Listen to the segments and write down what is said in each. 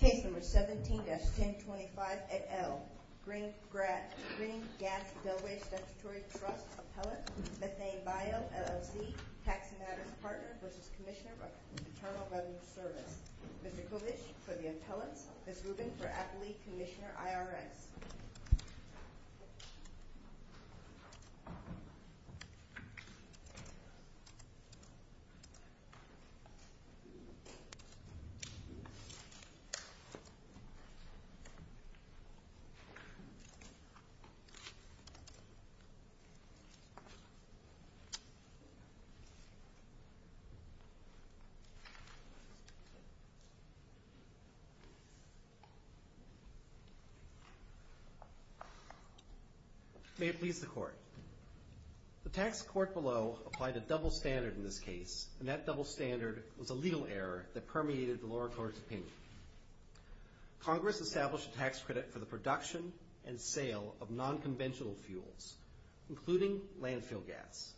Case number 17-1025-8L. Green Gas Delaware Statutory Trust Appellate, Methane Bio LLC, Tax and Address Partner v. Commissioner of Internal Revenue Service. Mr. Kovish for the Appellates, Ms. Rubin for Appellate, Commissioner, IRS. May it please the Court, The tax court below applied a double standard in this case, and that double standard was a legal error that permeated the lower court's opinion. Congress established a tax credit for the production and sale of non-conventional fuels, including landfill gas.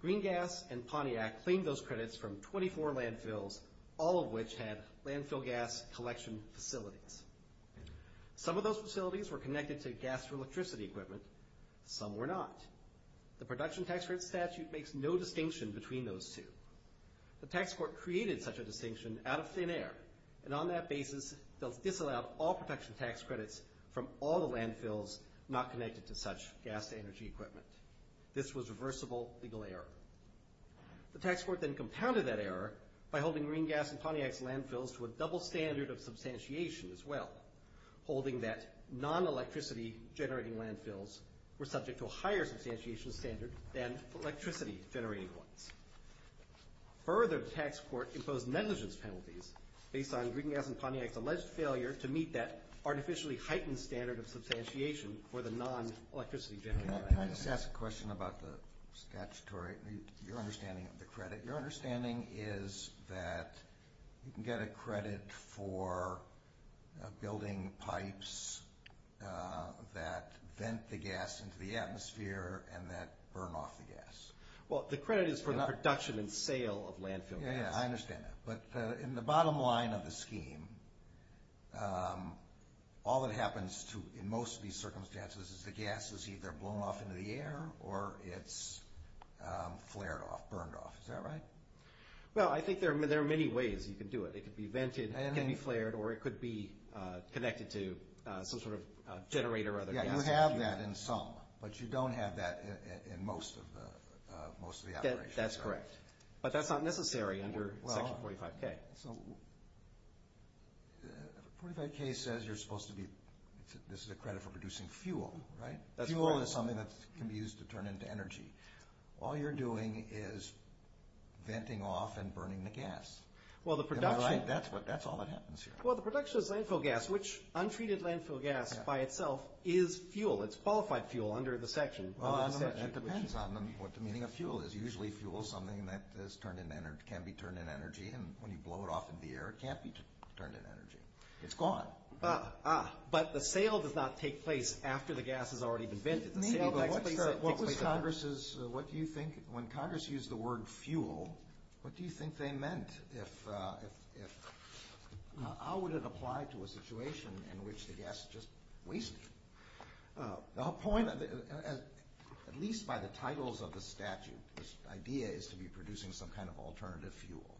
Green Gas and Pontiac claimed those credits from 24 landfills, all of which had landfill gas collection facilities. Some of those facilities were connected to gas or electricity equipment, some were not. The production tax credit statute makes no distinction between those two. The tax court created such a distinction out of thin air, and on that basis disallowed all production tax credits from all the landfills not connected to such gas to energy equipment. This was a reversible legal error. The tax court then compounded that error by holding Green Gas and Pontiac's landfills to a double standard of substantiation as well, holding that non-electricity generating landfills were subject to a higher substantiation standard than electricity generating ones. Further, the tax court imposed negligence penalties based on Green Gas and Pontiac's alleged failure to meet that artificially heightened standard of substantiation for the non-electricity generating landfills. Can I just ask a question about the statutory, your understanding of the credit? Your understanding is that you can get a credit for building pipes that vent the gas into the atmosphere and that burn off the gas. Well, the credit is for the production and sale of landfill gas. Yeah, I understand that. But in the bottom line of the scheme, all that happens in most of these circumstances is the gas is either blown off into the air or it's flared off, burned off. Is that right? Well, I think there are many ways you can do it. It could be vented, it can be flared, or it could be connected to some sort of generator or other thing. Yeah, you have that in some, but you don't have that in most of the operations. That's correct. But that's not necessary under Section 45K. Well, 45K says you're supposed to be, this is a credit for producing fuel, right? That's correct. Fuel is something that can be used to turn into energy. All you're doing is venting off and burning the gas. Am I right? That's all that happens here. Well, the production of landfill gas, which untreated landfill gas by itself is fuel, it's qualified fuel under the section. It depends on what the meaning of fuel is. Usually fuel is something that can be turned into energy, and when you blow it off into the air, it can't be turned into energy. It's gone. Ah, but the sale does not take place after the gas has already been vented. Maybe, but what was Congress's, what do you think, when Congress used the word fuel, what do you think they meant? How would it apply to a situation in which the gas is just wasted? The whole point, at least by the titles of the statute, this idea is to be producing some kind of alternative fuel.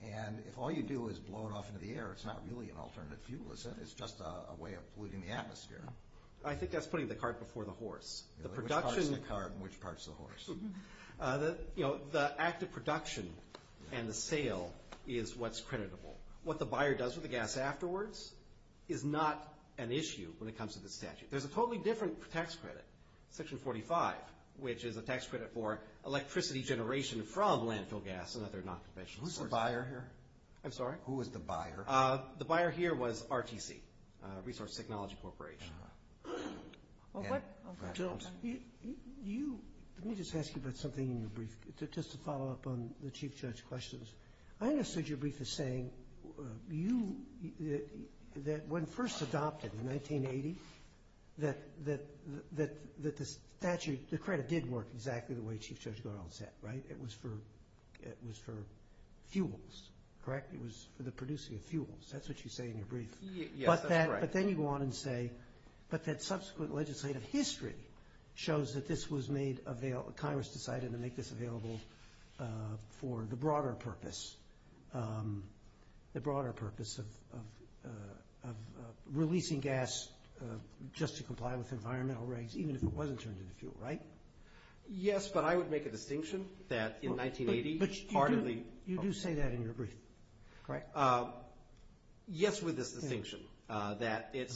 And if all you do is blow it off into the air, it's not really an alternative fuel. It's just a way of polluting the atmosphere. I think that's putting the cart before the horse. Which part's the cart and which part's the horse? The act of production and the sale is what's creditable. What the buyer does with the gas afterwards is not an issue when it comes to the statute. There's a totally different tax credit, Section 45, which is a tax credit for electricity generation from landfill gas and other non-conventional sources. Who's the buyer here? I'm sorry? Who is the buyer? The buyer here was RTC, Resource Technology Corporation. Jim? Let me just ask you about something in your brief, just to follow up on the Chief Judge's questions. I understood your brief as saying that when first adopted in 1980, that the statute, the credit did work exactly the way Chief Judge Garland said, right? It was for fuels, correct? It was for the producing of fuels. That's what you say in your brief. Yes, that's right. But then you go on and say, but that subsequent legislative history shows that this was made available, Congress decided to make this available for the broader purpose, the broader purpose of releasing gas just to comply with environmental regs, even if it wasn't turned into fuel, right? Yes, but I would make a distinction that in 1980, part of the— But you do say that in your brief, correct? Yes, with this distinction, that in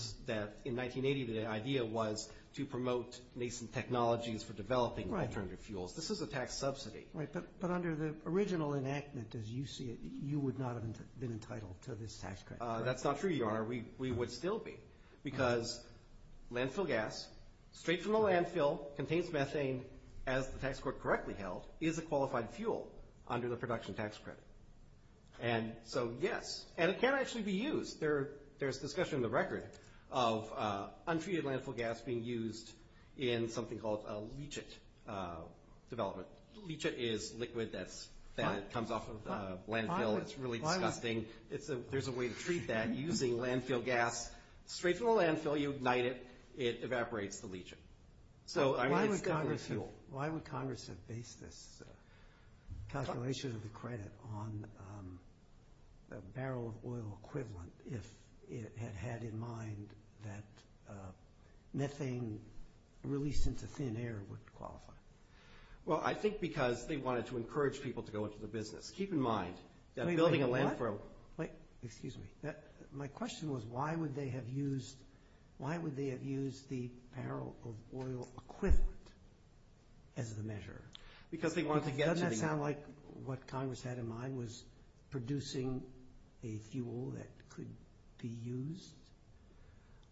1980, the idea was to promote nascent technologies for developing alternative fuels. This is a tax subsidy. Right, but under the original enactment as you see it, you would not have been entitled to this tax credit, correct? That's not true, Your Honor. We would still be because landfill gas, straight from the landfill, contains methane as the tax court correctly held, is a qualified fuel under the production tax credit. And so, yes, and it can actually be used. There's discussion in the record of untreated landfill gas being used in something called a leachate development. Leachate is liquid that comes off of landfill. It's really disgusting. There's a way to treat that using landfill gas. Straight from the landfill, you ignite it. It evaporates the leachate. Why would Congress have based this calculation of the credit on a barrel of oil equivalent if it had had in mind that methane released into thin air would qualify? Well, I think because they wanted to encourage people to go into the business. Keep in mind that building a landfill— Wait, wait, what? Why would they have used the barrel of oil equivalent as the measure? Because they wanted to get to the— Doesn't that sound like what Congress had in mind was producing a fuel that could be used?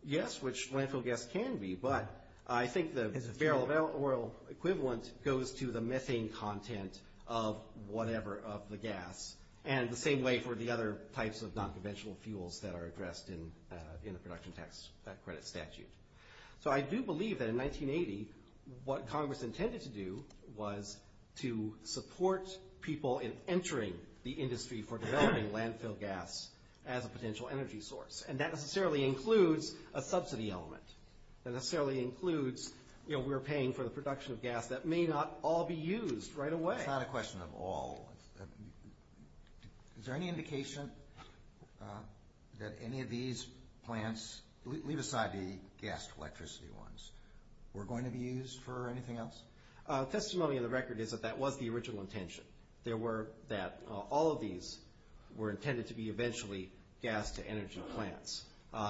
Yes, which landfill gas can be. But I think the barrel of oil equivalent goes to the methane content of whatever, of the gas, and the same way for the other types of nonconventional fuels that are addressed in the production tax credit statute. So I do believe that in 1980, what Congress intended to do was to support people in entering the industry for developing landfill gas as a potential energy source. And that necessarily includes a subsidy element. That necessarily includes we're paying for the production of gas that may not all be used right away. That's not a question of all. Is there any indication that any of these plants, leave aside the gas to electricity ones, were going to be used for anything else? Testimony of the record is that that was the original intention. There were that all of these were intended to be eventually gas to energy plants.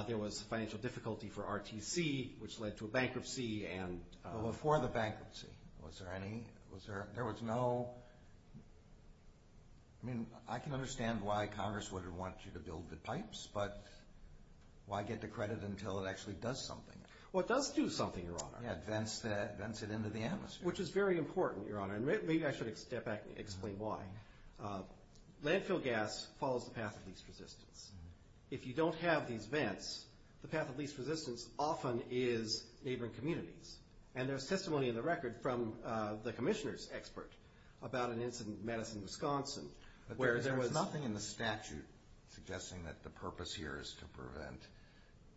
There was financial difficulty for RTC, which led to a bankruptcy and— There was no—I mean, I can understand why Congress would have wanted you to build the pipes, but why get the credit until it actually does something? Well, it does do something, Your Honor. Yeah, it vents it into the atmosphere. Which is very important, Your Honor, and maybe I should step back and explain why. Landfill gas follows the path of least resistance. If you don't have these vents, the path of least resistance often is neighboring communities. And there's testimony in the record from the commissioner's expert about an incident in Madison, Wisconsin, where there was— But there was nothing in the statute suggesting that the purpose here is to prevent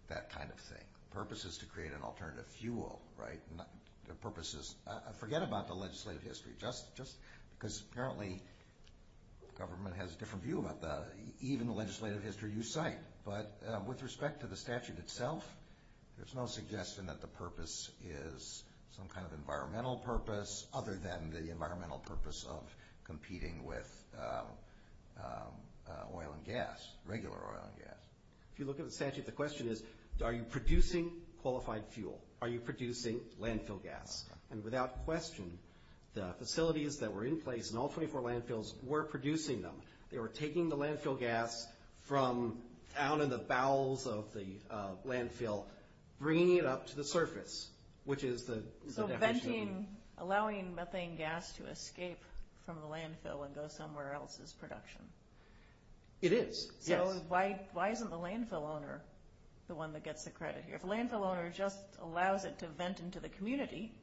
that kind of thing. The purpose is to create an alternative fuel, right? The purpose is—forget about the legislative history. Just because apparently government has a different view about that, even the legislative history you cite. But with respect to the statute itself, there's no suggestion that the purpose is some kind of environmental purpose, other than the environmental purpose of competing with oil and gas, regular oil and gas. If you look at the statute, the question is, are you producing qualified fuel? Are you producing landfill gas? And without question, the facilities that were in place in all 24 landfills were producing them. They were taking the landfill gas from down in the bowels of the landfill, bringing it up to the surface, which is the— So venting—allowing methane gas to escape from the landfill and go somewhere else is production. It is, yes. So why isn't the landfill owner the one that gets the credit here? If a landfill owner just allows it to vent into the community,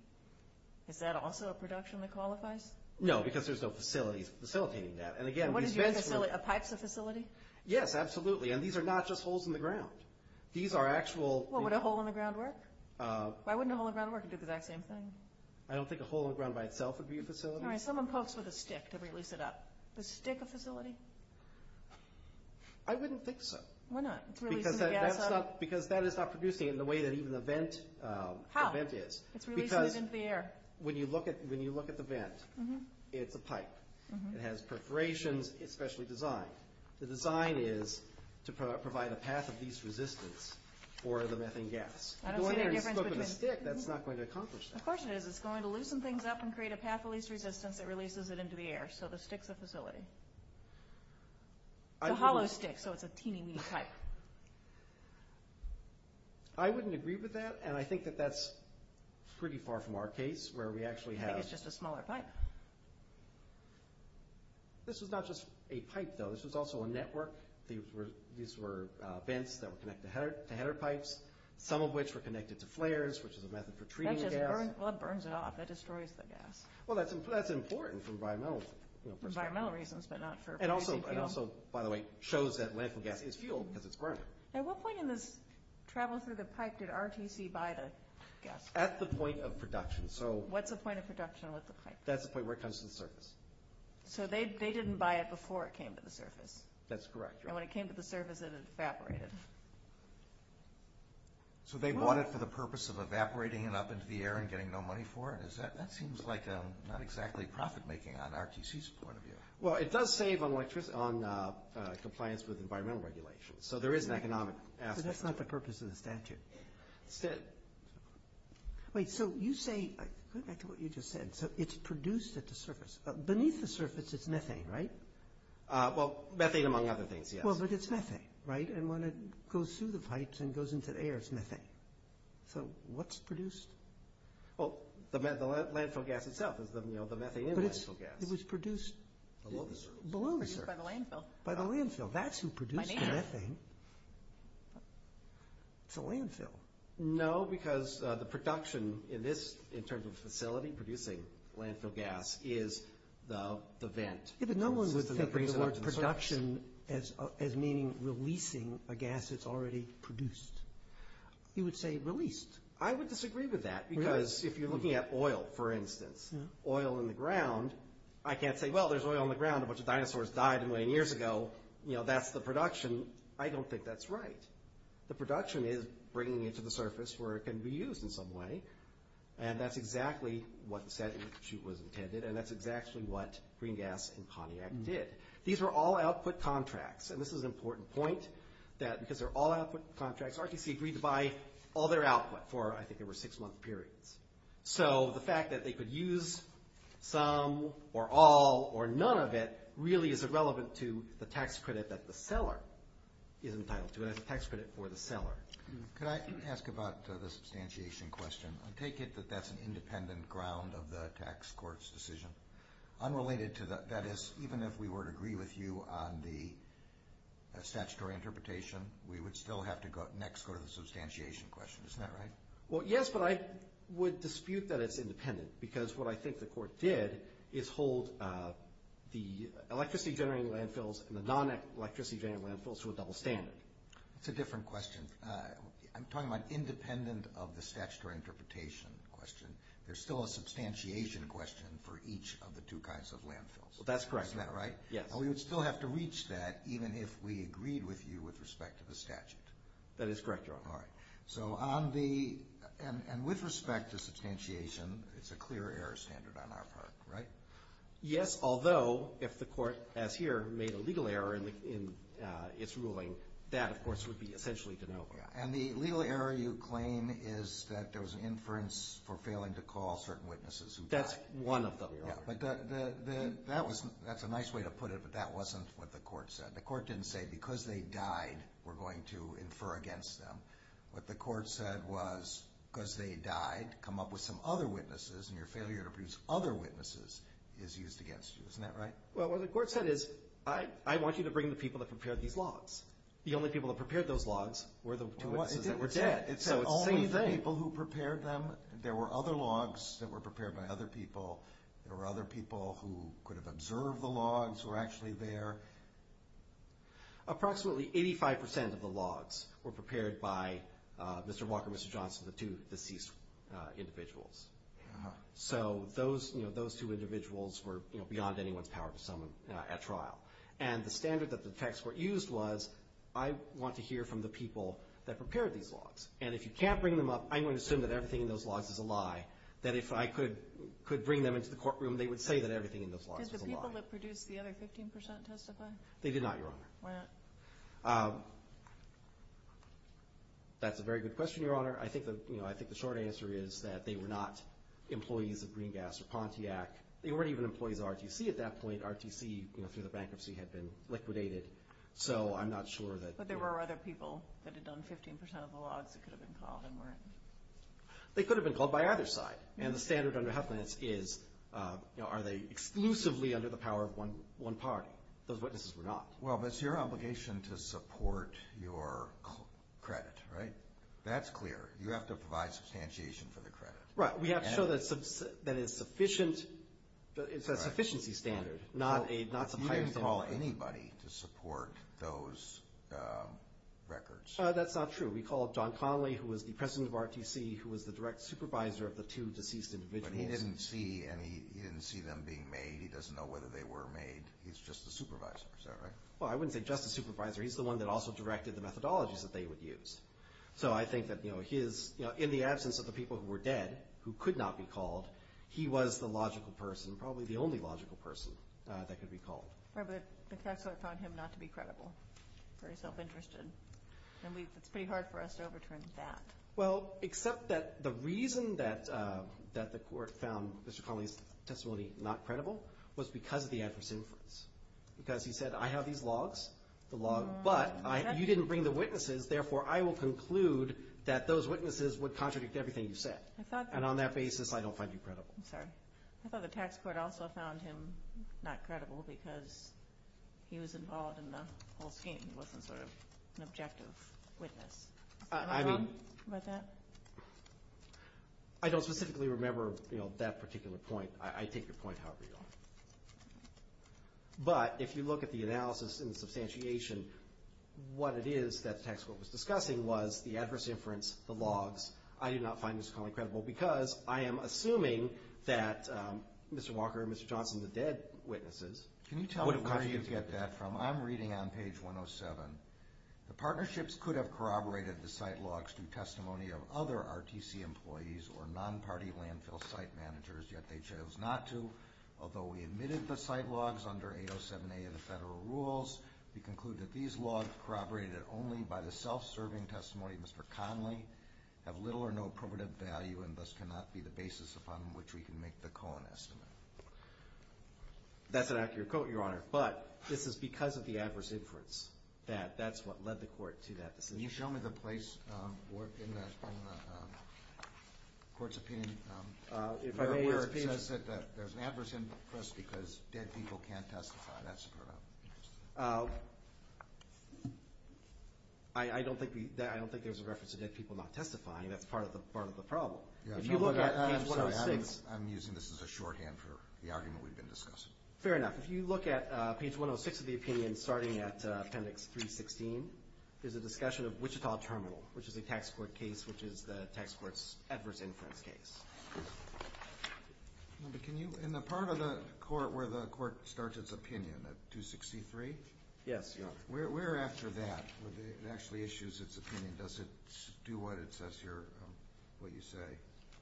is that also a production that qualifies? No, because there's no facilities facilitating that. And again, these vents— Are pipes a facility? Yes, absolutely. And these are not just holes in the ground. These are actual— Well, would a hole in the ground work? Why wouldn't a hole in the ground work? It'd do the exact same thing. I don't think a hole in the ground by itself would be a facility. All right, someone pokes with a stick to release it up. Is a stick a facility? I wouldn't think so. Why not? It's releasing the gas out of it. Because that is not producing it in the way that even a vent is. How? It's releasing it into the air. Because when you look at the vent, it's a pipe. It has perforations, especially design. The design is to provide a path of least resistance for the methane gas. I don't see the difference between— Going there and poking a stick, that's not going to accomplish that. Of course it is. It's going to loosen things up and create a path of least resistance that releases it into the air. So the stick's a facility. It's a hollow stick, so it's a teeny, weeny pipe. I wouldn't agree with that, and I think that that's pretty far from our case, where we actually have— This was not just a pipe, though. This was also a network. These were vents that were connected to header pipes, some of which were connected to flares, which is a method for treating the gas. That just burns it off. That destroys the gas. Well, that's important for environmental— Environmental reasons, but not for— And also, by the way, shows that landfill gas is fuel because it's burning. At what point in this travel through the pipe did RTC buy the gas? At the point of production. What's the point of production with the pipe? That's the point where it comes to the surface. So they didn't buy it before it came to the surface. That's correct. And when it came to the surface, it evaporated. So they bought it for the purpose of evaporating it up into the air and getting no money for it? That seems like not exactly profit-making on RTC's point of view. Well, it does save on compliance with environmental regulations, so there is an economic aspect to it. But that's not the purpose of the statute. It's dead. Wait, so you say—go back to what you just said. So it's produced at the surface. Beneath the surface, it's methane, right? Well, methane among other things, yes. Well, but it's methane, right? And when it goes through the pipes and goes into the air, it's methane. So what's produced? Well, the landfill gas itself is the methane in the landfill gas. But it was produced— Below the surface. Below the surface. Produced by the landfill. By the landfill. That's who produced the methane. It's a landfill. No, because the production in this—in terms of the facility producing landfill gas is the vent. Yeah, but no one would think of the word production as meaning releasing a gas that's already produced. You would say released. I would disagree with that because if you're looking at oil, for instance, oil in the ground, I can't say, well, there's oil in the ground. A bunch of dinosaurs died a million years ago. That's the production. I don't think that's right. The production is bringing it to the surface where it can be used in some way. And that's exactly what the statute was intended. And that's exactly what Green Gas and CONIAC did. These were all output contracts. And this is an important point, that because they're all output contracts, RTC agreed to buy all their output for, I think it was six-month periods. So the fact that they could use some or all or none of it really is irrelevant to the tax credit that the seller is entitled to. It has a tax credit for the seller. Could I ask about the substantiation question? I take it that that's an independent ground of the tax court's decision. That is, even if we were to agree with you on the statutory interpretation, we would still have to next go to the substantiation question. Isn't that right? Well, yes, but I would dispute that it's independent because what I think the court did is hold the electricity-generating landfills and the non-electricity-generating landfills to a double standard. That's a different question. I'm talking about independent of the statutory interpretation question. There's still a substantiation question for each of the two kinds of landfills. That's correct. Isn't that right? Yes. And we would still have to reach that even if we agreed with you with respect to the statute. That is correct, Your Honor. All right. And with respect to substantiation, it's a clear error standard on our part, right? Yes, although if the court, as here, made a legal error in its ruling, that, of course, would be essentially de novo. And the legal error you claim is that there was an inference for failing to call certain witnesses who died. That's one of them, Your Honor. That's a nice way to put it, but that wasn't what the court said. The court didn't say because they died, we're going to infer against them. What the court said was because they died, come up with some other witnesses, and your failure to produce other witnesses is used against you. Isn't that right? Well, what the court said is I want you to bring the people that prepared these logs. The only people that prepared those logs were the two witnesses that were dead. It's the only people who prepared them. There were other logs that were prepared by other people. There were other people who could have observed the logs were actually there. Approximately 85% of the logs were prepared by Mr. Walker and Mr. Johnson, the two deceased individuals. So those two individuals were beyond anyone's power to summon at trial. And the standard that the tax court used was I want to hear from the people that prepared these logs. And if you can't bring them up, I'm going to assume that everything in those logs is a lie, that if I could bring them into the courtroom, they would say that everything in those logs was a lie. Did the people that produced the other 15% testify? They did not, Your Honor. Why not? That's a very good question, Your Honor. I think the short answer is that they were not employees of Green Gas or Pontiac. They weren't even employees of RTC at that point. RTC, through the bankruptcy, had been liquidated. So I'm not sure that... But there were other people that had done 15% of the logs that could have been called and weren't. They could have been called by either side. And the standard under Huffman is are they exclusively under the power of one party? Those witnesses were not. Well, but it's your obligation to support your credit, right? That's clear. You have to provide substantiation for the credit. Right. We have to show that it's a sufficiency standard, not a... You didn't call anybody to support those records. That's not true. We called John Connolly, who was the president of RTC, who was the direct supervisor of the two deceased individuals. But he didn't see them being made. He doesn't know whether they were made. He's just a supervisor. Is that right? Well, I wouldn't say just a supervisor. He's the one that also directed the methodologies that they would use. So I think that in the absence of the people who were dead, who could not be called, he was the logical person, probably the only logical person, that could be called. Right, but the tax clerk found him not to be credible, very self-interested. And it's pretty hard for us to overturn that. Well, except that the reason that the court found Mr. Connolly's testimony not credible was because of the adverse influence. Because he said, I have these logs, the log, but you didn't bring the witnesses, therefore I will conclude that those witnesses would contradict everything you said. And on that basis, I don't find you credible. I'm sorry. I thought the tax court also found him not credible because he was involved in the whole scheme. He wasn't sort of an objective witness. Is that wrong about that? I don't specifically remember that particular point. I take your point however you want. But if you look at the analysis and the substantiation, what it is that the tax court was discussing was the adverse inference, the logs. I do not find Mr. Connolly credible because I am assuming that Mr. Walker and Mr. Johnson, the dead witnesses, would have contradicted. Can you tell me where you get that from? I'm reading on page 107. The partnerships could have corroborated the site logs through testimony of other RTC employees or non-party landfill site managers, yet they chose not to. Although we admitted the site logs under 807A of the federal rules, we conclude that these logs corroborated only by the self-serving testimony of Mr. Connolly have little or no probative value and thus cannot be the basis upon which we can make the Cohen estimate. That's an accurate quote, Your Honor. But this is because of the adverse inference that that's what led the court to that decision. Can you show me the place in the court's opinion where it says that there's an adverse inference because dead people can't testify? That's the part I'm interested in. I don't think there's a reference to dead people not testifying. That's part of the problem. If you look at page 106. I'm using this as a shorthand for the argument we've been discussing. Fair enough. If you look at page 106 of the opinion starting at appendix 316, there's a discussion of Wichita Terminal, which is a tax court case, which is the tax court's adverse inference case. Can you, in the part of the court where the court starts its opinion at 263? Yes, Your Honor. Where after that, where it actually issues its opinion, does it do what you say?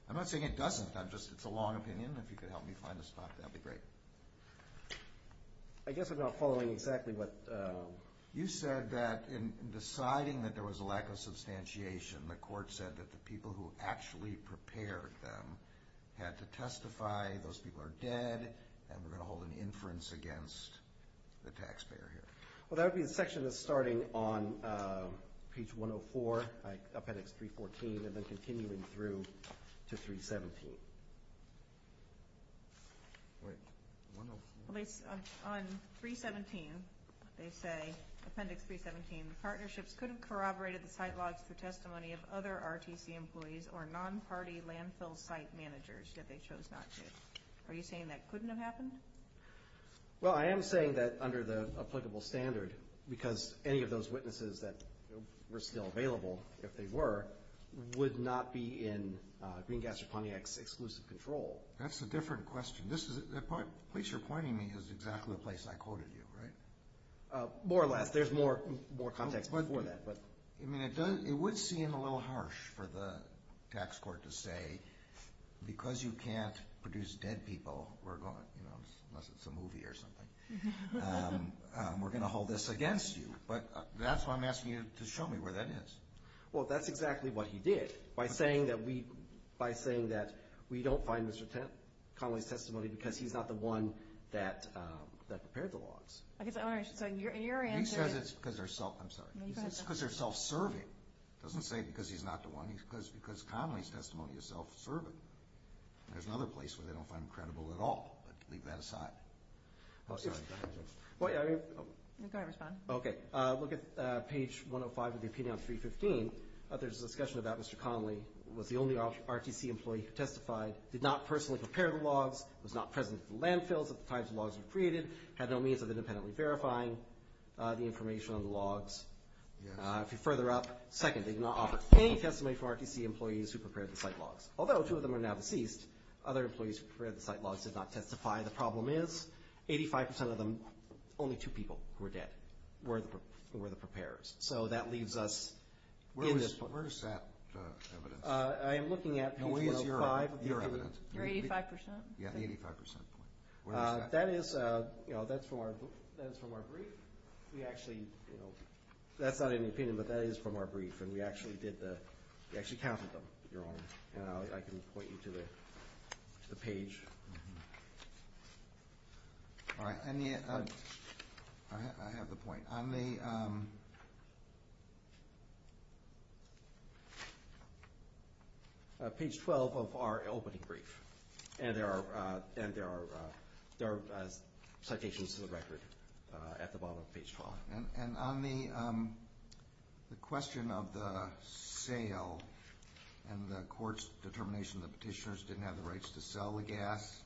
I'm not saying it doesn't. It's a long opinion. If you could help me find a spot, that would be great. I guess I'm not following exactly what— You said that in deciding that there was a lack of substantiation, the court said that the people who actually prepared them had to testify, those people are dead, and we're going to hold an inference against the taxpayer here. That would be the section that's starting on page 104, appendix 314, and then continuing through to 317. On 317, they say, appendix 317, partnerships could have corroborated the site logs through testimony of other RTC employees or non-party landfill site managers that they chose not to. Are you saying that couldn't have happened? Well, I am saying that under the applicable standard, because any of those witnesses that were still available, if they were, would not be in Green Gas or Pontiac's exclusive control. That's a different question. The place you're pointing me is exactly the place I quoted you, right? More or less. There's more context before that. It would seem a little harsh for the tax court to say, because you can't produce dead people, unless it's a movie or something, we're going to hold this against you. But that's why I'm asking you to show me where that is. Well, that's exactly what he did. By saying that we don't find Mr. Connolly's testimony because he's not the one that prepared the logs. Okay, so you're answering. He says it's because they're self-serving. He doesn't say because he's not the one. He says because Connolly's testimony is self-serving. There's another place where they don't find him credible at all, but leave that aside. Sorry, go ahead. Go ahead, respond. Okay, look at page 105 of the opinion on 315. There's a discussion about Mr. Connolly was the only RTC employee who testified, did not personally prepare the logs, was not present at the landfills at the time the logs were created, had no means of independently verifying the information on the logs. If you're further up, second, did not offer any testimony from RTC employees who prepared the site logs. Although two of them are now deceased, other employees who prepared the site logs did not testify. The problem is 85% of them, only two people were dead, were the preparers. So that leaves us in this point. Where is that evidence? I am looking at page 105. Where is your evidence? Your 85%? Yeah, the 85% point. Where is that? That is from our brief. We actually, that's not in the opinion, but that is from our brief, and we actually did the, we actually counted them. I can point you to the page. All right. I have the point. On the page 12 of our opening brief, and there are citations to the record at the bottom of page 12. And on the question of the sale and the court's determination that petitioners didn't have the rights to sell the gas,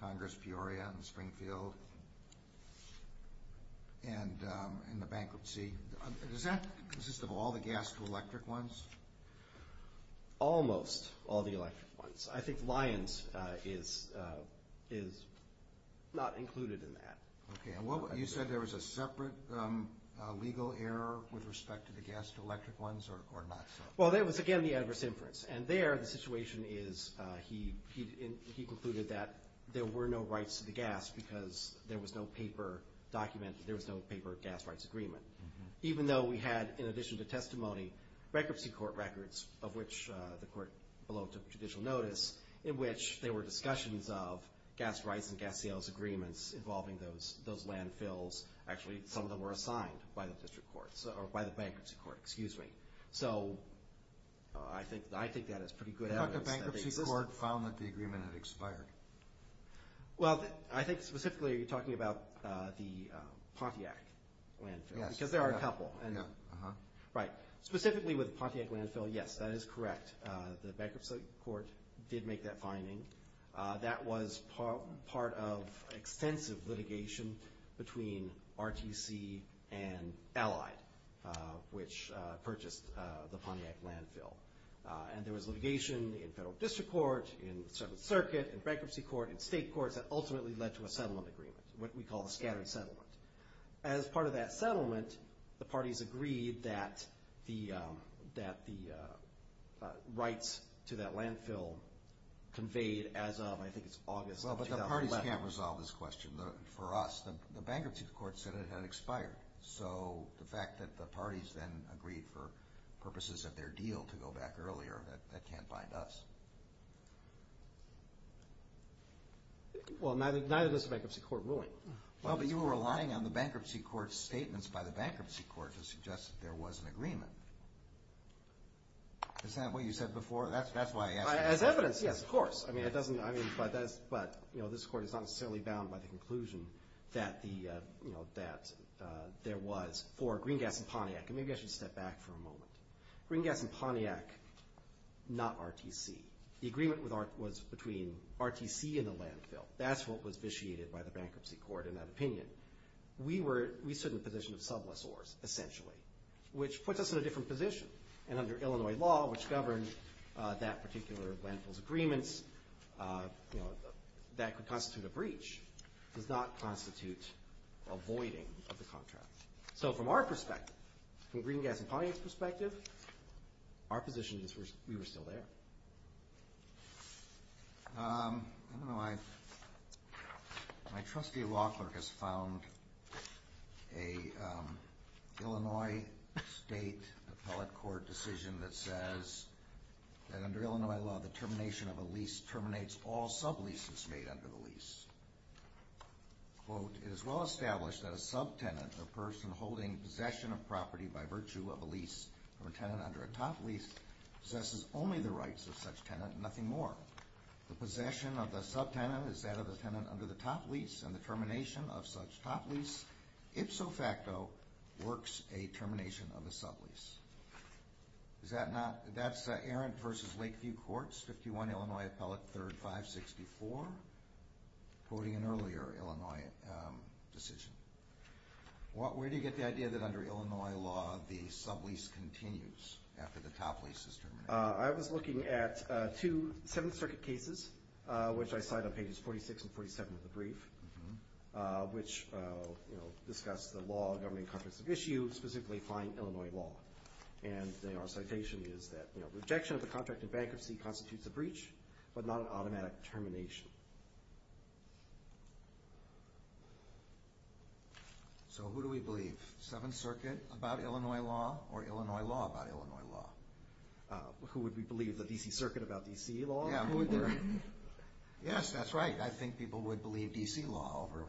Congress, Peoria, and Springfield, and the bankruptcy, does that consist of all the gas to electric ones? Almost all the electric ones. I think Lyons is not included in that. Okay. You said there was a separate legal error with respect to the gas to electric ones or not so? Well, there was, again, the adverse inference. And there the situation is he concluded that there were no rights to the gas because there was no paper document, there was no paper gas rights agreement. Even though we had, in addition to testimony, bankruptcy court records, of which the court belonged to judicial notice, in which there were discussions of gas rights and gas sales agreements involving those landfills. Actually, some of them were assigned by the bankruptcy court. So I think that is pretty good evidence. The bankruptcy court found that the agreement had expired. Well, I think specifically you're talking about the Pontiac landfill. Yes. Because there are a couple. Right. Specifically with the Pontiac landfill, yes, that is correct. The bankruptcy court did make that finding. That was part of extensive litigation between RTC and Allied, which purchased the Pontiac landfill. And there was litigation in federal district court, in the 7th circuit, in bankruptcy court, in state courts that ultimately led to a settlement agreement, what we call a scattered settlement. As part of that settlement, the parties agreed that the rights to that landfill conveyed as of, I think it's August of 2011. Well, but the parties can't resolve this question. For us, the bankruptcy court said it had expired. So the fact that the parties then agreed for purposes of their deal to go back earlier, that can't bind us. Well, neither does the bankruptcy court ruling. Well, but you were relying on the bankruptcy court's statements by the bankruptcy court to suggest that there was an agreement. Is that what you said before? As evidence, yes, of course. But this court is not necessarily bound by the conclusion that there was for Green Gas and Pontiac. Maybe I should step back for a moment. Green Gas and Pontiac, not RTC. The agreement was between RTC and the landfill. That's what was vitiated by the bankruptcy court in that opinion. We stood in the position of sublessors, essentially, which puts us in a different position. And under Illinois law, which governed that particular landfill's agreements, that could constitute a breach. It does not constitute a voiding of the contract. So from our perspective, from Green Gas and Pontiac's perspective, our position is we were still there. I don't know. My trustee law clerk has found an Illinois state appellate court decision that says that under Illinois law, the termination of a lease terminates all subleases made under the lease. Quote, it is well established that a subtenant, a person holding possession of property by virtue of a lease or a tenant under a top lease, possesses only the rights of such tenant and nothing more. The possession of a subtenant is that of a tenant under the top lease, and the termination of such top lease, ipso facto, works a termination of a sublease. Is that not? That's Arendt v. Lakeview Courts, 51 Illinois Appellate, 3rd 564, quoting an earlier Illinois decision. Where do you get the idea that under Illinois law, the sublease continues after the top lease is terminated? I was looking at two Seventh Circuit cases, which I cite on pages 46 and 47 of the brief, which discuss the law governing contracts of issue, specifically fine Illinois law. And our citation is that rejection of the contract in bankruptcy constitutes a breach, but not an automatic termination. So who do we believe, Seventh Circuit about Illinois law or Illinois law about Illinois law? Who would we believe, the D.C. Circuit about D.C. law? Yes, that's right. I think people would believe D.C. law over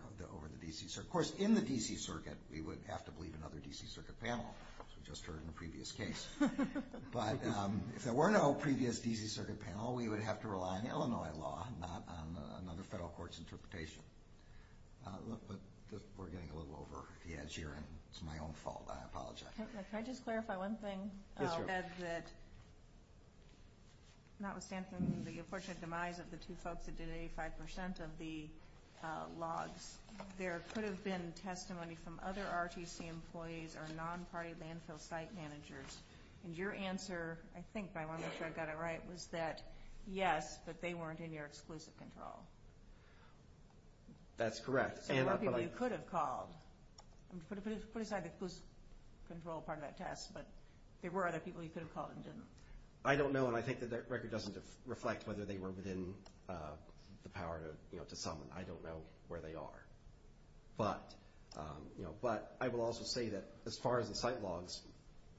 the D.C. Circuit. Of course, in the D.C. Circuit, we would have to believe another D.C. Circuit panel, as we just heard in the previous case. But if there were no previous D.C. Circuit panel, we would have to rely on Illinois law, not on another federal court's interpretation. We're getting a little over the edge here, and it's my own fault. I apologize. Can I just clarify one thing? Yes, ma'am. Notwithstanding the unfortunate demise of the two folks that did 85% of the logs, there could have been testimony from other RTC employees or non-party landfill site managers, and your answer, I think, but I want to make sure I've got it right, was that yes, but they weren't in your exclusive control. That's correct. There were people you could have called. Put aside the exclusive control part of that test, but there were other people you could have called and didn't. I don't know, and I think that record doesn't reflect whether they were within the power to summon. I don't know where they are. But I will also say that as far as the site logs,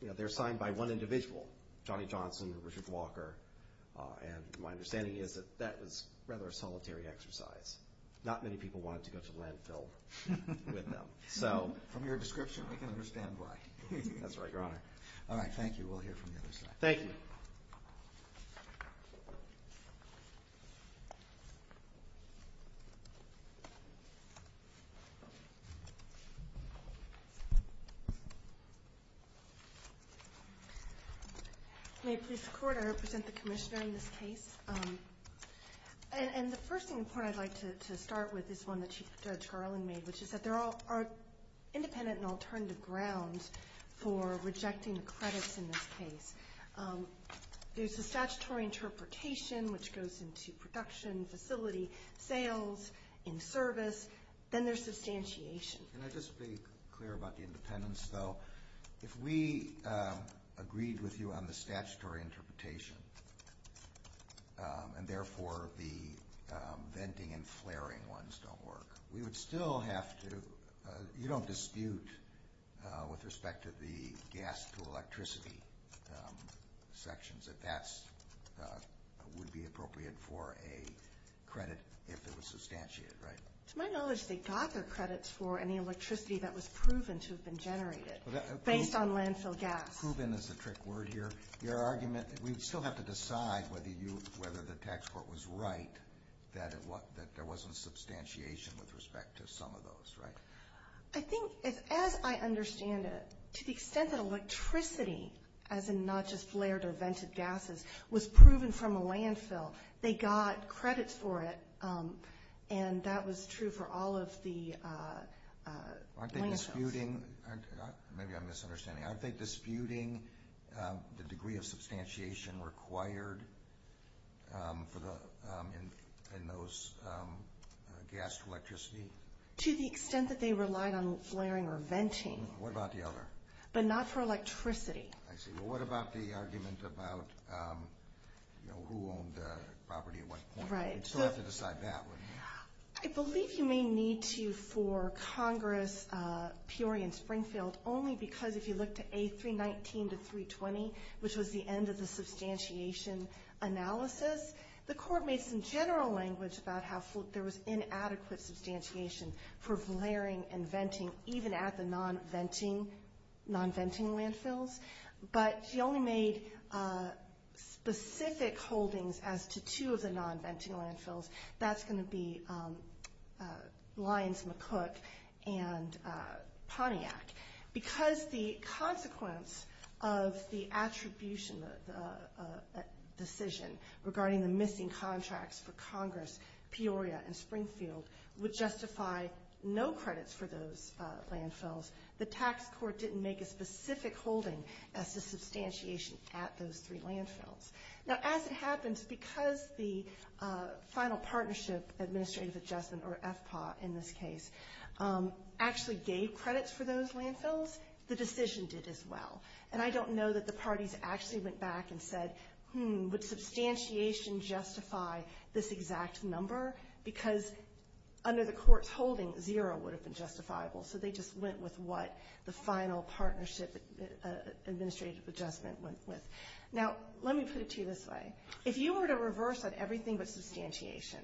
they're signed by one individual, Johnny Johnson or Richard Walker, and my understanding is that that was rather a solitary exercise. Not many people wanted to go to the landfill with them. From your description, we can understand why. That's right, Your Honor. All right, thank you. We'll hear from you in a second. Thank you. May it please the Court, I represent the Commissioner in this case. And the first thing I'd like to start with is one that Judge Garland made, which is that there are independent and alternative grounds for rejecting the credits in this case. There's a statutory interpretation, which goes into production, facility, sales, in service. Then there's substantiation. Can I just be clear about the independence, though? If we agreed with you on the statutory interpretation, and therefore the venting and flaring ones don't work, we would still have to, you don't dispute with respect to the gas to electricity sections that that would be appropriate for a credit if it was substantiated, right? To my knowledge, they got their credits for any electricity that was proven to have been generated based on landfill gas. Proven is a trick word here. Your argument, we would still have to decide whether the tax court was right that there wasn't substantiation with respect to some of those, right? I think, as I understand it, to the extent that electricity, as in not just flared or vented gases, was proven from a landfill, they got credits for it, and that was true for all of the landfills. Aren't they disputing, maybe I'm misunderstanding, aren't they disputing the degree of substantiation required in those gas to electricity? To the extent that they relied on flaring or venting. What about the other? But not for electricity. I see. Well, what about the argument about who owned the property at what point? Right. We'd still have to decide that, wouldn't we? I believe you may need to for Congress, Peoria, and Springfield, only because if you look to A319 to 320, which was the end of the substantiation analysis, the court made some general language about how there was inadequate substantiation for flaring and venting, even at the non-venting landfills, but she only made specific holdings as to two of the non-venting landfills. That's going to be Lyons-McCook and Pontiac. Because the consequence of the attribution decision regarding the missing contracts for Congress, Peoria, and Springfield would justify no credits for those landfills, the tax court didn't make a specific holding as to substantiation at those three landfills. Now, as it happens, because the Final Partnership Administrative Adjustment, or FPAW in this case, actually gave credits for those landfills, the decision did as well. And I don't know that the parties actually went back and said, hmm, would substantiation justify this exact number? Because under the court's holding, zero would have been justifiable, so they just went with what the Final Partnership Administrative Adjustment went with. Now, let me put it to you this way. If you were to reverse everything but substantiation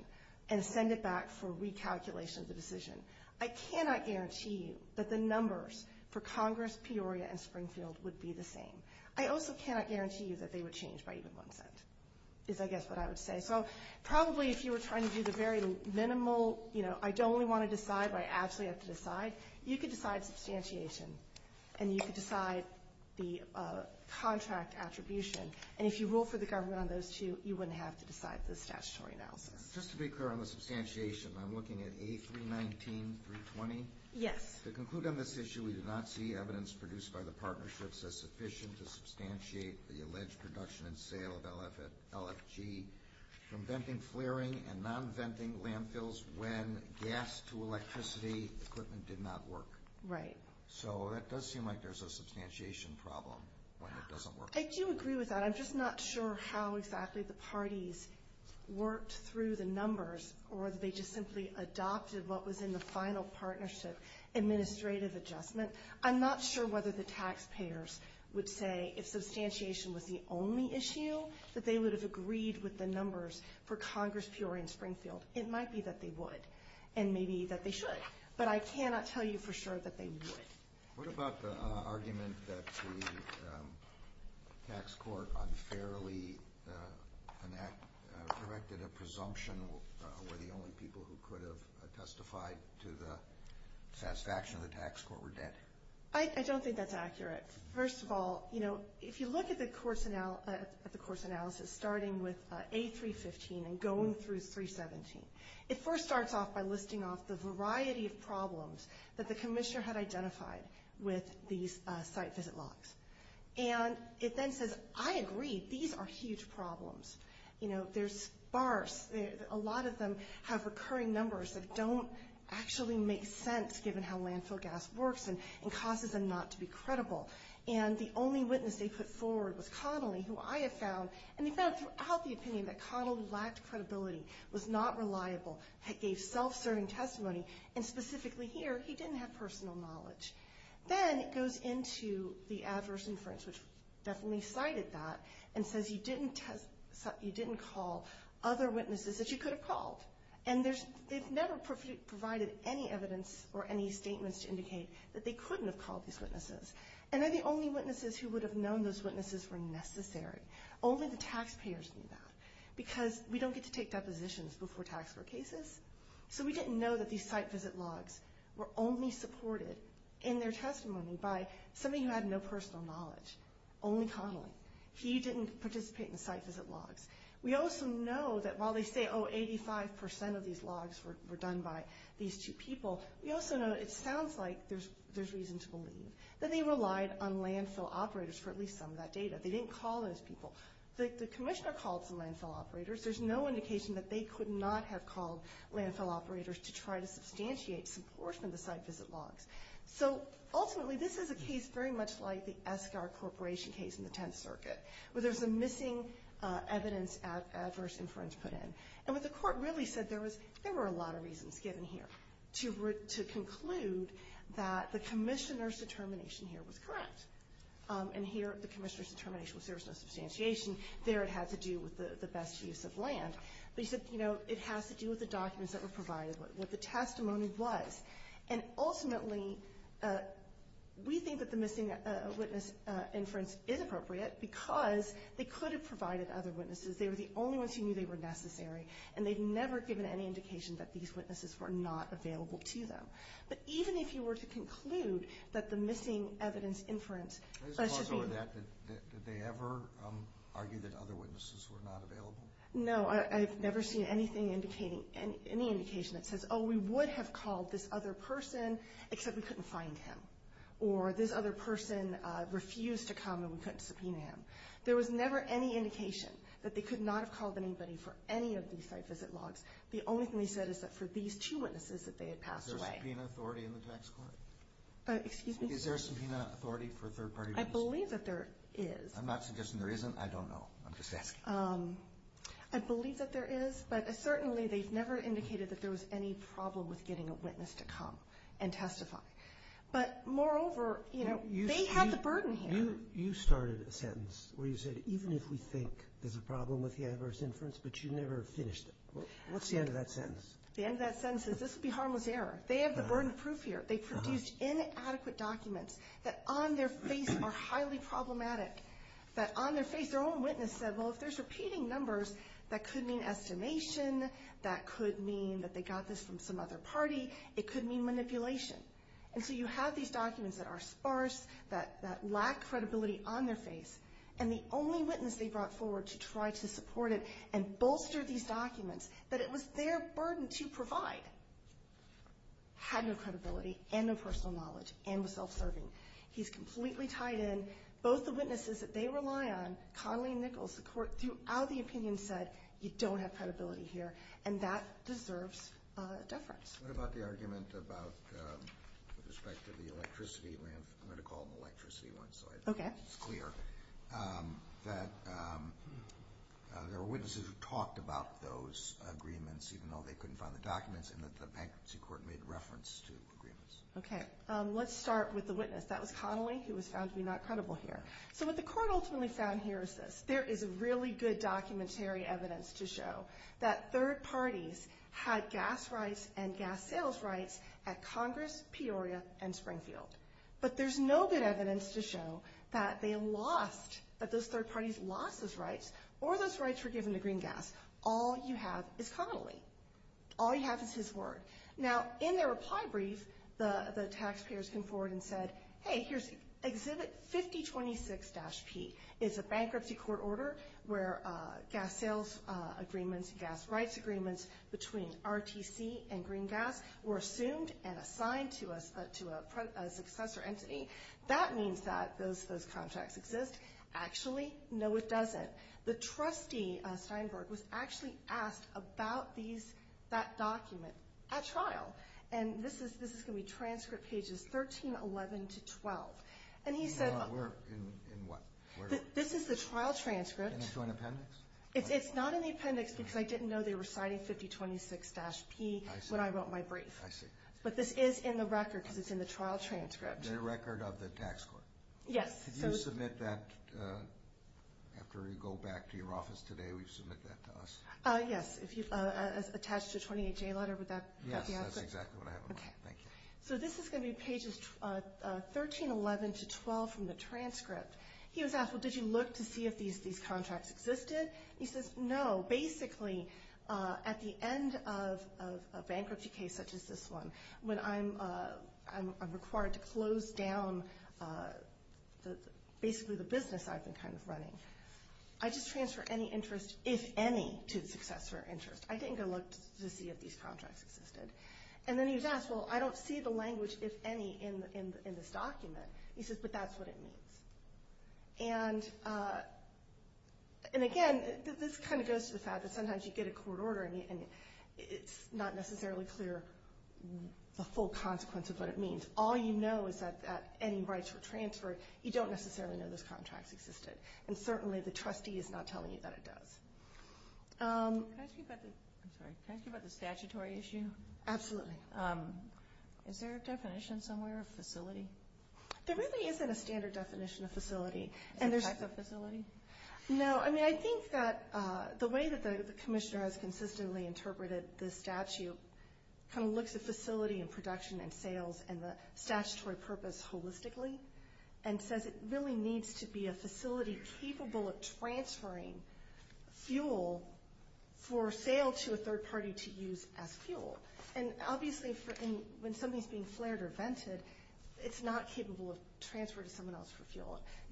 and send it back for recalculation of the decision, I cannot guarantee you that the numbers for Congress, Peoria, and Springfield would be the same. I also cannot guarantee you that they would change by even one cent, is I guess what I would say. So probably if you were trying to do the very minimal, you know, I don't only want to decide, but I actually have to decide, you could decide substantiation and you could decide the contract attribution. And if you rule for the government on those two, you wouldn't have to decide the statutory analysis. Just to be clear on the substantiation, I'm looking at A319, 320? Yes. To conclude on this issue, we do not see evidence produced by the partnerships as sufficient to substantiate the alleged production and sale of LFG from venting, flaring, and non-venting landfills when gas to electricity equipment did not work. Right. So it does seem like there's a substantiation problem when it doesn't work. I do agree with that. I'm just not sure how exactly the parties worked through the numbers or that they just simply adopted what was in the final partnership administrative adjustment. I'm not sure whether the taxpayers would say if substantiation was the only issue, that they would have agreed with the numbers for Congress, Peoria, and Springfield. It might be that they would and maybe that they should, but I cannot tell you for sure that they would. What about the argument that the tax court unfairly corrected a presumption where the only people who could have testified to the satisfaction of the tax court were dead? I don't think that's accurate. First of all, if you look at the course analysis starting with A315 and going through 317, it first starts off by listing off the variety of problems that the commissioner had identified with these site visit logs. And it then says, I agree, these are huge problems. They're sparse. A lot of them have recurring numbers that don't actually make sense given how landfill gas works and causes them not to be credible. And the only witness they put forward was Connolly, who I have found, and they found throughout the opinion, that Connolly lacked credibility, was not reliable, gave self-serving testimony, and specifically here, he didn't have personal knowledge. Then it goes into the adverse inference, which definitely cited that, and says you didn't call other witnesses that you could have called. And it never provided any evidence or any statements to indicate that they couldn't have called these witnesses. And they're the only witnesses who would have known those witnesses were necessary. Only the taxpayers knew that, because we don't get to take depositions before tax court cases. So we didn't know that these site visit logs were only supported in their testimony by somebody who had no personal knowledge, only Connolly. He didn't participate in the site visit logs. We also know that while they say, oh, 85% of these logs were done by these two people, we also know it sounds like there's reason to believe that they relied on landfill operators for at least some of that data. They didn't call those people. The commissioner called some landfill operators. There's no indication that they could not have called landfill operators to try to substantiate some portion of the site visit logs. So, ultimately, this is a case very much like the Escar Corporation case in the Tenth Circuit, where there's a missing evidence of adverse inference put in. And what the court really said, there were a lot of reasons given here to conclude that the commissioner's determination here was correct. And here, the commissioner's determination was there's no substantiation. There, it had to do with the best use of land. But he said, you know, it has to do with the documents that were provided, what the testimony was. And ultimately, we think that the missing witness inference is appropriate because they could have provided other witnesses. They were the only ones who knew they were necessary, and they'd never given any indication that these witnesses were not available to them. But even if you were to conclude that the missing evidence inference... Was it possible that they ever argued that other witnesses were not available? No, I've never seen anything indicating, any indication that says, oh, we would have called this other person, except we couldn't find him. Or this other person refused to come, and we couldn't subpoena him. There was never any indication that they could not have called anybody for any of these site visit logs. The only thing they said is that for these two witnesses that they had passed away. Is there a subpoena authority in the tax court? Excuse me? Is there a subpoena authority for third-party witnesses? I believe that there is. I'm not suggesting there isn't. I don't know. I'm just asking. I believe that there is, but certainly they've never indicated that there was any problem with getting a witness to come and testify. But moreover, you know, they had the burden here. You started a sentence where you said, even if we think there's a problem with the adverse inference, but you never finished it. What's the end of that sentence? The end of that sentence is, this would be harmless error. They have the burden of proof here. They produced inadequate documents that on their face are highly problematic. That on their face, their own witness said, well, if there's repeating numbers, that could mean estimation. That could mean that they got this from some other party. It could mean manipulation. And so you have these documents that are sparse, that lack credibility on their face. And the only witness they brought forward to try to support it and bolster these documents, that it was their burden to provide, had no credibility and no personal knowledge and was self-serving. He's completely tied in. Both the witnesses that they rely on, Connolly and Nichols, the Court throughout the opinion said, you don't have credibility here, and that deserves deference. What about the argument about the respect to the electricity? I'm going to call them electricity ones, so it's clear. Okay. There were witnesses who talked about those agreements, even though they couldn't find the documents, and the Bankruptcy Court made reference to agreements. Okay. Let's start with the witness. That was Connolly, who was found to be not credible here. So what the Court ultimately found here is this. There is really good documentary evidence to show that third parties had gas rights and gas sales rights at Congress, Peoria, and Springfield. But there's no good evidence to show that they lost, that those third parties lost those rights or those rights were given to Green Gas. All you have is Connolly. All you have is his word. Now, in their reply brief, the taxpayers came forward and said, hey, here's Exhibit 5026-P. It's a Bankruptcy Court order where gas sales agreements and gas rights agreements between RTC and Green Gas were assumed and assigned to a successor entity. That means that those contracts exist. Actually, no, it doesn't. The trustee, Steinberg, was actually asked about these, that document, at trial. And this is going to be transcript pages 1311 to 12. And he said... No, we're in what? This is the trial transcript. In the joint appendix? It's not in the appendix because I didn't know they were signing 5026-P when I wrote my brief. I see. But this is in the record because it's in the trial transcript. The record of the tax court. Yes. Could you submit that after you go back to your office today? Will you submit that to us? Yes, attached to a 28-J letter. Yes, that's exactly what I have in mind. Thank you. So this is going to be pages 1311 to 12 from the transcript. He was asked, well, did you look to see if these contracts existed? He says, no. Basically, at the end of a bankruptcy case such as this one, when I'm required to close down basically the business I've been kind of running, I just transfer any interest, if any, to the successor interest. I didn't go look to see if these contracts existed. And then he was asked, well, I don't see the language, if any, in this document. He says, but that's what it means. And, again, this kind of goes to the fact that sometimes you get a court order and it's not necessarily clear the full consequence of what it means. All you know is that any rights were transferred. You don't necessarily know those contracts existed. And certainly the trustee is not telling you that it does. Can I ask you about the statutory issue? Absolutely. Is there a definition somewhere of facility? There really isn't a standard definition of facility. Is there a type of facility? No. I mean, I think that the way that the commissioner has consistently interpreted this statute kind of looks at facility and production and sales and the statutory purpose holistically and says it really needs to be a facility capable of transferring fuel for sale to a third party to use as fuel. And, obviously, when something is being flared or vented,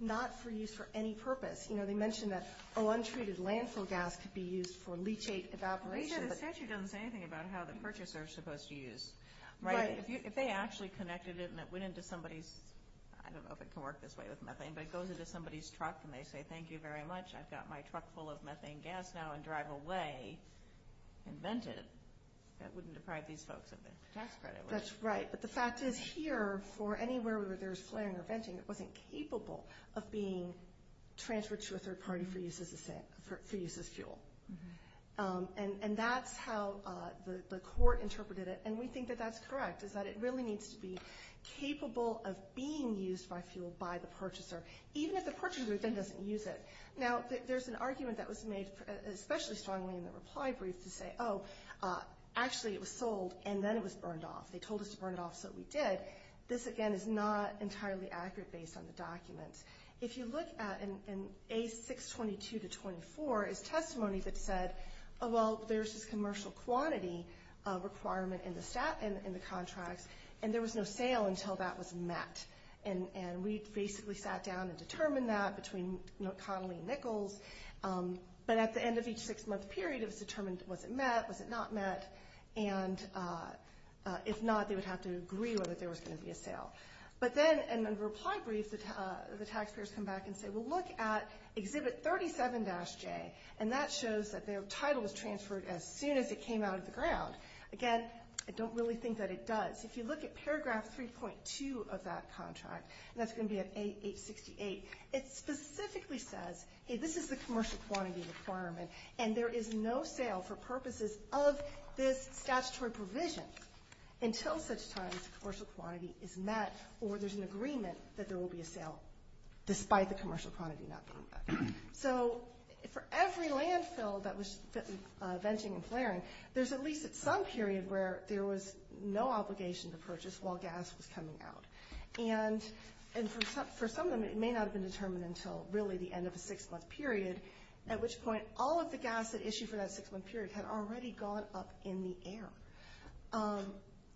not for use for any purpose. You know, they mention that, oh, untreated landfill gas could be used for leachate evaporation. The statute doesn't say anything about how the purchaser is supposed to use. Right. If they actually connected it and it went into somebody's, I don't know if it can work this way with methane, but it goes into somebody's truck and they say, thank you very much. I've got my truck full of methane gas now and drive away and vent it, that wouldn't deprive these folks of their tax credit, would it? That's right. But the fact is here for anywhere where there's flaring or venting, it wasn't capable of being transferred to a third party for use as fuel. And that's how the court interpreted it. And we think that that's correct, is that it really needs to be capable of being used by fuel by the purchaser, even if the purchaser then doesn't use it. Now, there's an argument that was made especially strongly in the reply brief to say, oh, actually it was sold and then it was burned off. They told us to burn it off, so we did. This, again, is not entirely accurate based on the documents. If you look at in A622-24 is testimony that said, oh, well, there's this commercial quantity requirement in the contracts and there was no sale until that was met. And we basically sat down and determined that between Connolly and Nichols. But at the end of each six-month period, it was determined was it met, was it not met. And if not, they would have to agree whether there was going to be a sale. But then in the reply brief, the taxpayers come back and say, well, look at Exhibit 37-J, and that shows that their title was transferred as soon as it came out of the ground. Again, I don't really think that it does. If you look at Paragraph 3.2 of that contract, and that's going to be at A868, it specifically says, hey, this is the commercial quantity requirement, and there is no sale for purposes of this statutory provision until such time as the commercial quantity is met or there's an agreement that there will be a sale despite the commercial quantity not being met. So for every landfill that was venting and flaring, there's at least some period where there was no obligation to purchase while gas was coming out. And for some of them, it may not have been determined until really the end of a six-month period, at which point all of the gas that issued for that six-month period had already gone up in the air.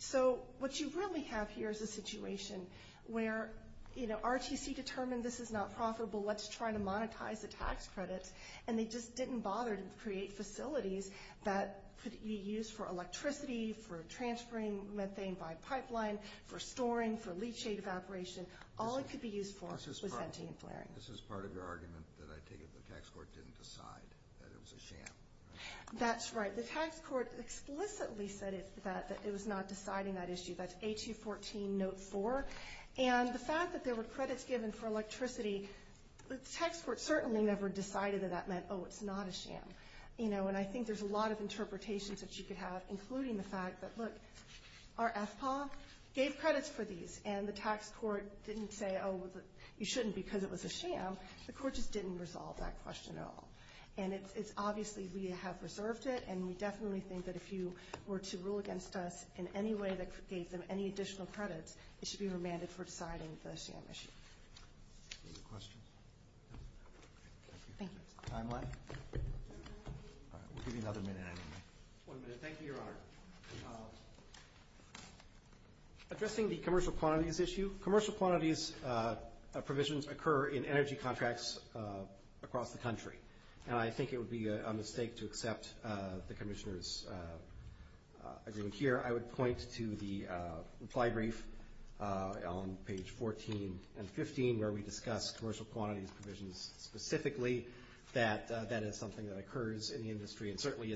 So what you really have here is a situation where, you know, RTC determined this is not profitable, let's try to monetize the tax credits, and they just didn't bother to create facilities that could be used for electricity, for transferring methane by pipeline, for storing, for leachate evaporation. This is part of your argument that I take it the tax court didn't decide that it was a sham, right? That's right. The tax court explicitly said that it was not deciding that issue. That's A214 Note 4. And the fact that there were credits given for electricity, the tax court certainly never decided that that meant, oh, it's not a sham. You know, and I think there's a lot of interpretations that you could have, including the fact that, look, our FPA gave credits for these, and the tax court didn't say, oh, you shouldn't because it was a sham. The court just didn't resolve that question at all. And it's obviously we have reserved it, and we definitely think that if you were to rule against us in any way that gave them any additional credits, it should be remanded for deciding the sham issue. Other questions? Timeline? We'll give you another minute anyway. One minute. Thank you, Your Honor. Addressing the commercial quantities issue, commercial quantities provisions occur in energy contracts across the country, and I think it would be a mistake to accept the Commissioner's agreement here. I would point to the reply brief on page 14 and 15, where we discuss commercial quantities provisions specifically, that that is something that occurs in the industry and certainly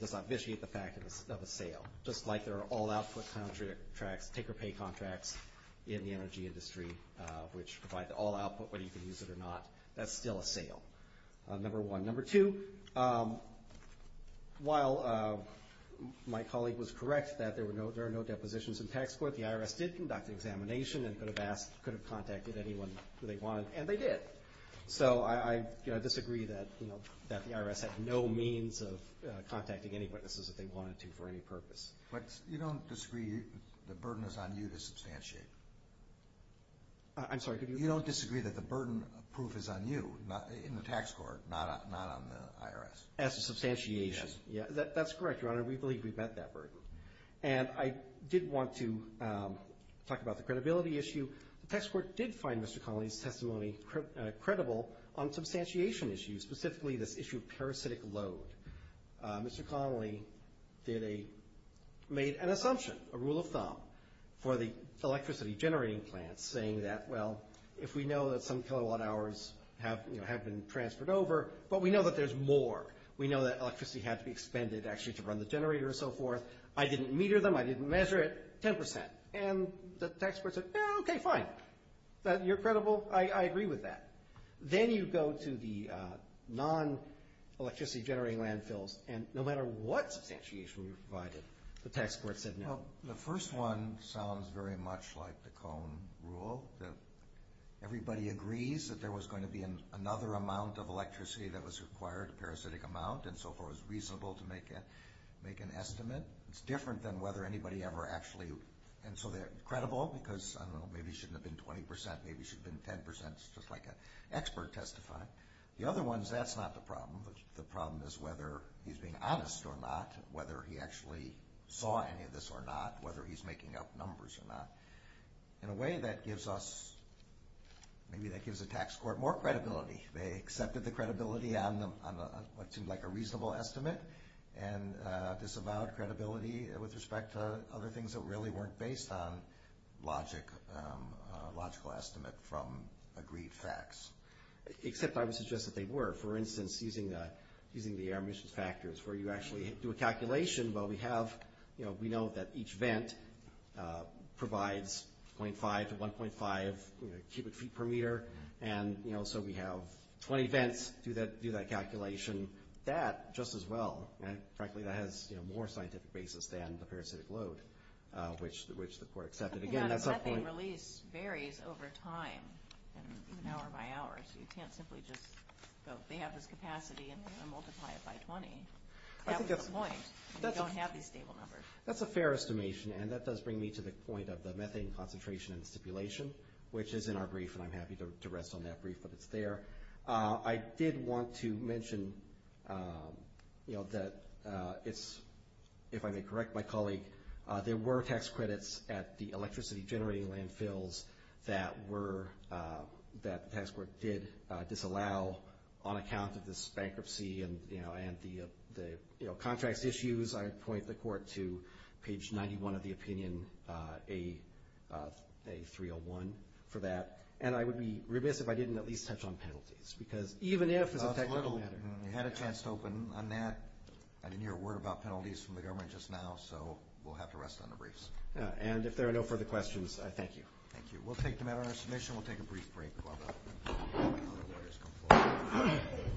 does not vitiate the fact of a sale, just like there are all-output take-or-pay contracts in the energy industry, which provide the all-output, whether you can use it or not. That's still a sale, number one. Number two, while my colleague was correct that there are no depositions in tax court, the IRS did conduct an examination and could have contacted anyone who they wanted, and they did. So I disagree that the IRS had no means of contacting any witnesses if they wanted to for any purpose. But you don't disagree the burden is on you to substantiate? I'm sorry, could you repeat that? You don't disagree that the burden of proof is on you in the tax court, not on the IRS? As to substantiation? Yes. That's correct, Your Honor. We believe we met that burden. And I did want to talk about the credibility issue. The tax court did find Mr. Connolly's testimony credible on substantiation issues, specifically this issue of parasitic load. Mr. Connolly made an assumption, a rule of thumb, for the electricity generating plant, saying that, well, if we know that some kilowatt hours have been transferred over, but we know that there's more, we know that electricity had to be expended, actually, to run the generator and so forth, I didn't meter them, I didn't measure it, 10%. And the tax court said, okay, fine, you're credible, I agree with that. Then you go to the non-electricity generating landfills, and no matter what substantiation we provided, the tax court said no. The first one sounds very much like the Cone rule, that everybody agrees that there was going to be another amount of electricity that was required, a parasitic amount, and so forth, it was reasonable to make an estimate. It's different than whether anybody ever actually, and so they're credible, because maybe it shouldn't have been 20%, maybe it should have been 10%, it's just like an expert testifying. The other one is that's not the problem. The problem is whether he's being honest or not, whether he actually saw any of this or not, whether he's making up numbers or not. In a way, that gives us, maybe that gives the tax court more credibility. They accepted the credibility on what seemed like a reasonable estimate, and disavowed credibility with respect to other things that really weren't based on logic, a logical estimate from agreed facts. Except I would suggest that they were. For instance, using the air emissions factors, where you actually do a calculation, well, we know that each vent provides 0.5 to 1.5 cubic feet per meter, and so we have 20 vents, do that calculation. That, just as well, and frankly that has more scientific basis than the parasitic load, which the court accepted. Again, that's a point. Methane release varies over time and hour by hour, so you can't simply just go they have this capacity and multiply it by 20. That was the point. You don't have these stable numbers. That's a fair estimation, and that does bring me to the point of the methane concentration and the stipulation, which is in our brief, and I'm happy to rest on that brief if it's there. I did want to mention that it's, if I may correct my colleague, there were tax credits at the electricity generating landfills that were, that the tax court did disallow on account of this bankruptcy and the contracts issues. I point the court to page 91 of the opinion, A301, for that, and I would be remiss if I didn't at least touch on penalties, because even if it's a technical matter. We had a chance to open on that. I didn't hear a word about penalties from the government just now, so we'll have to rest on the briefs. And if there are no further questions, I thank you. Thank you. We'll take the matter under submission. We'll take a brief break.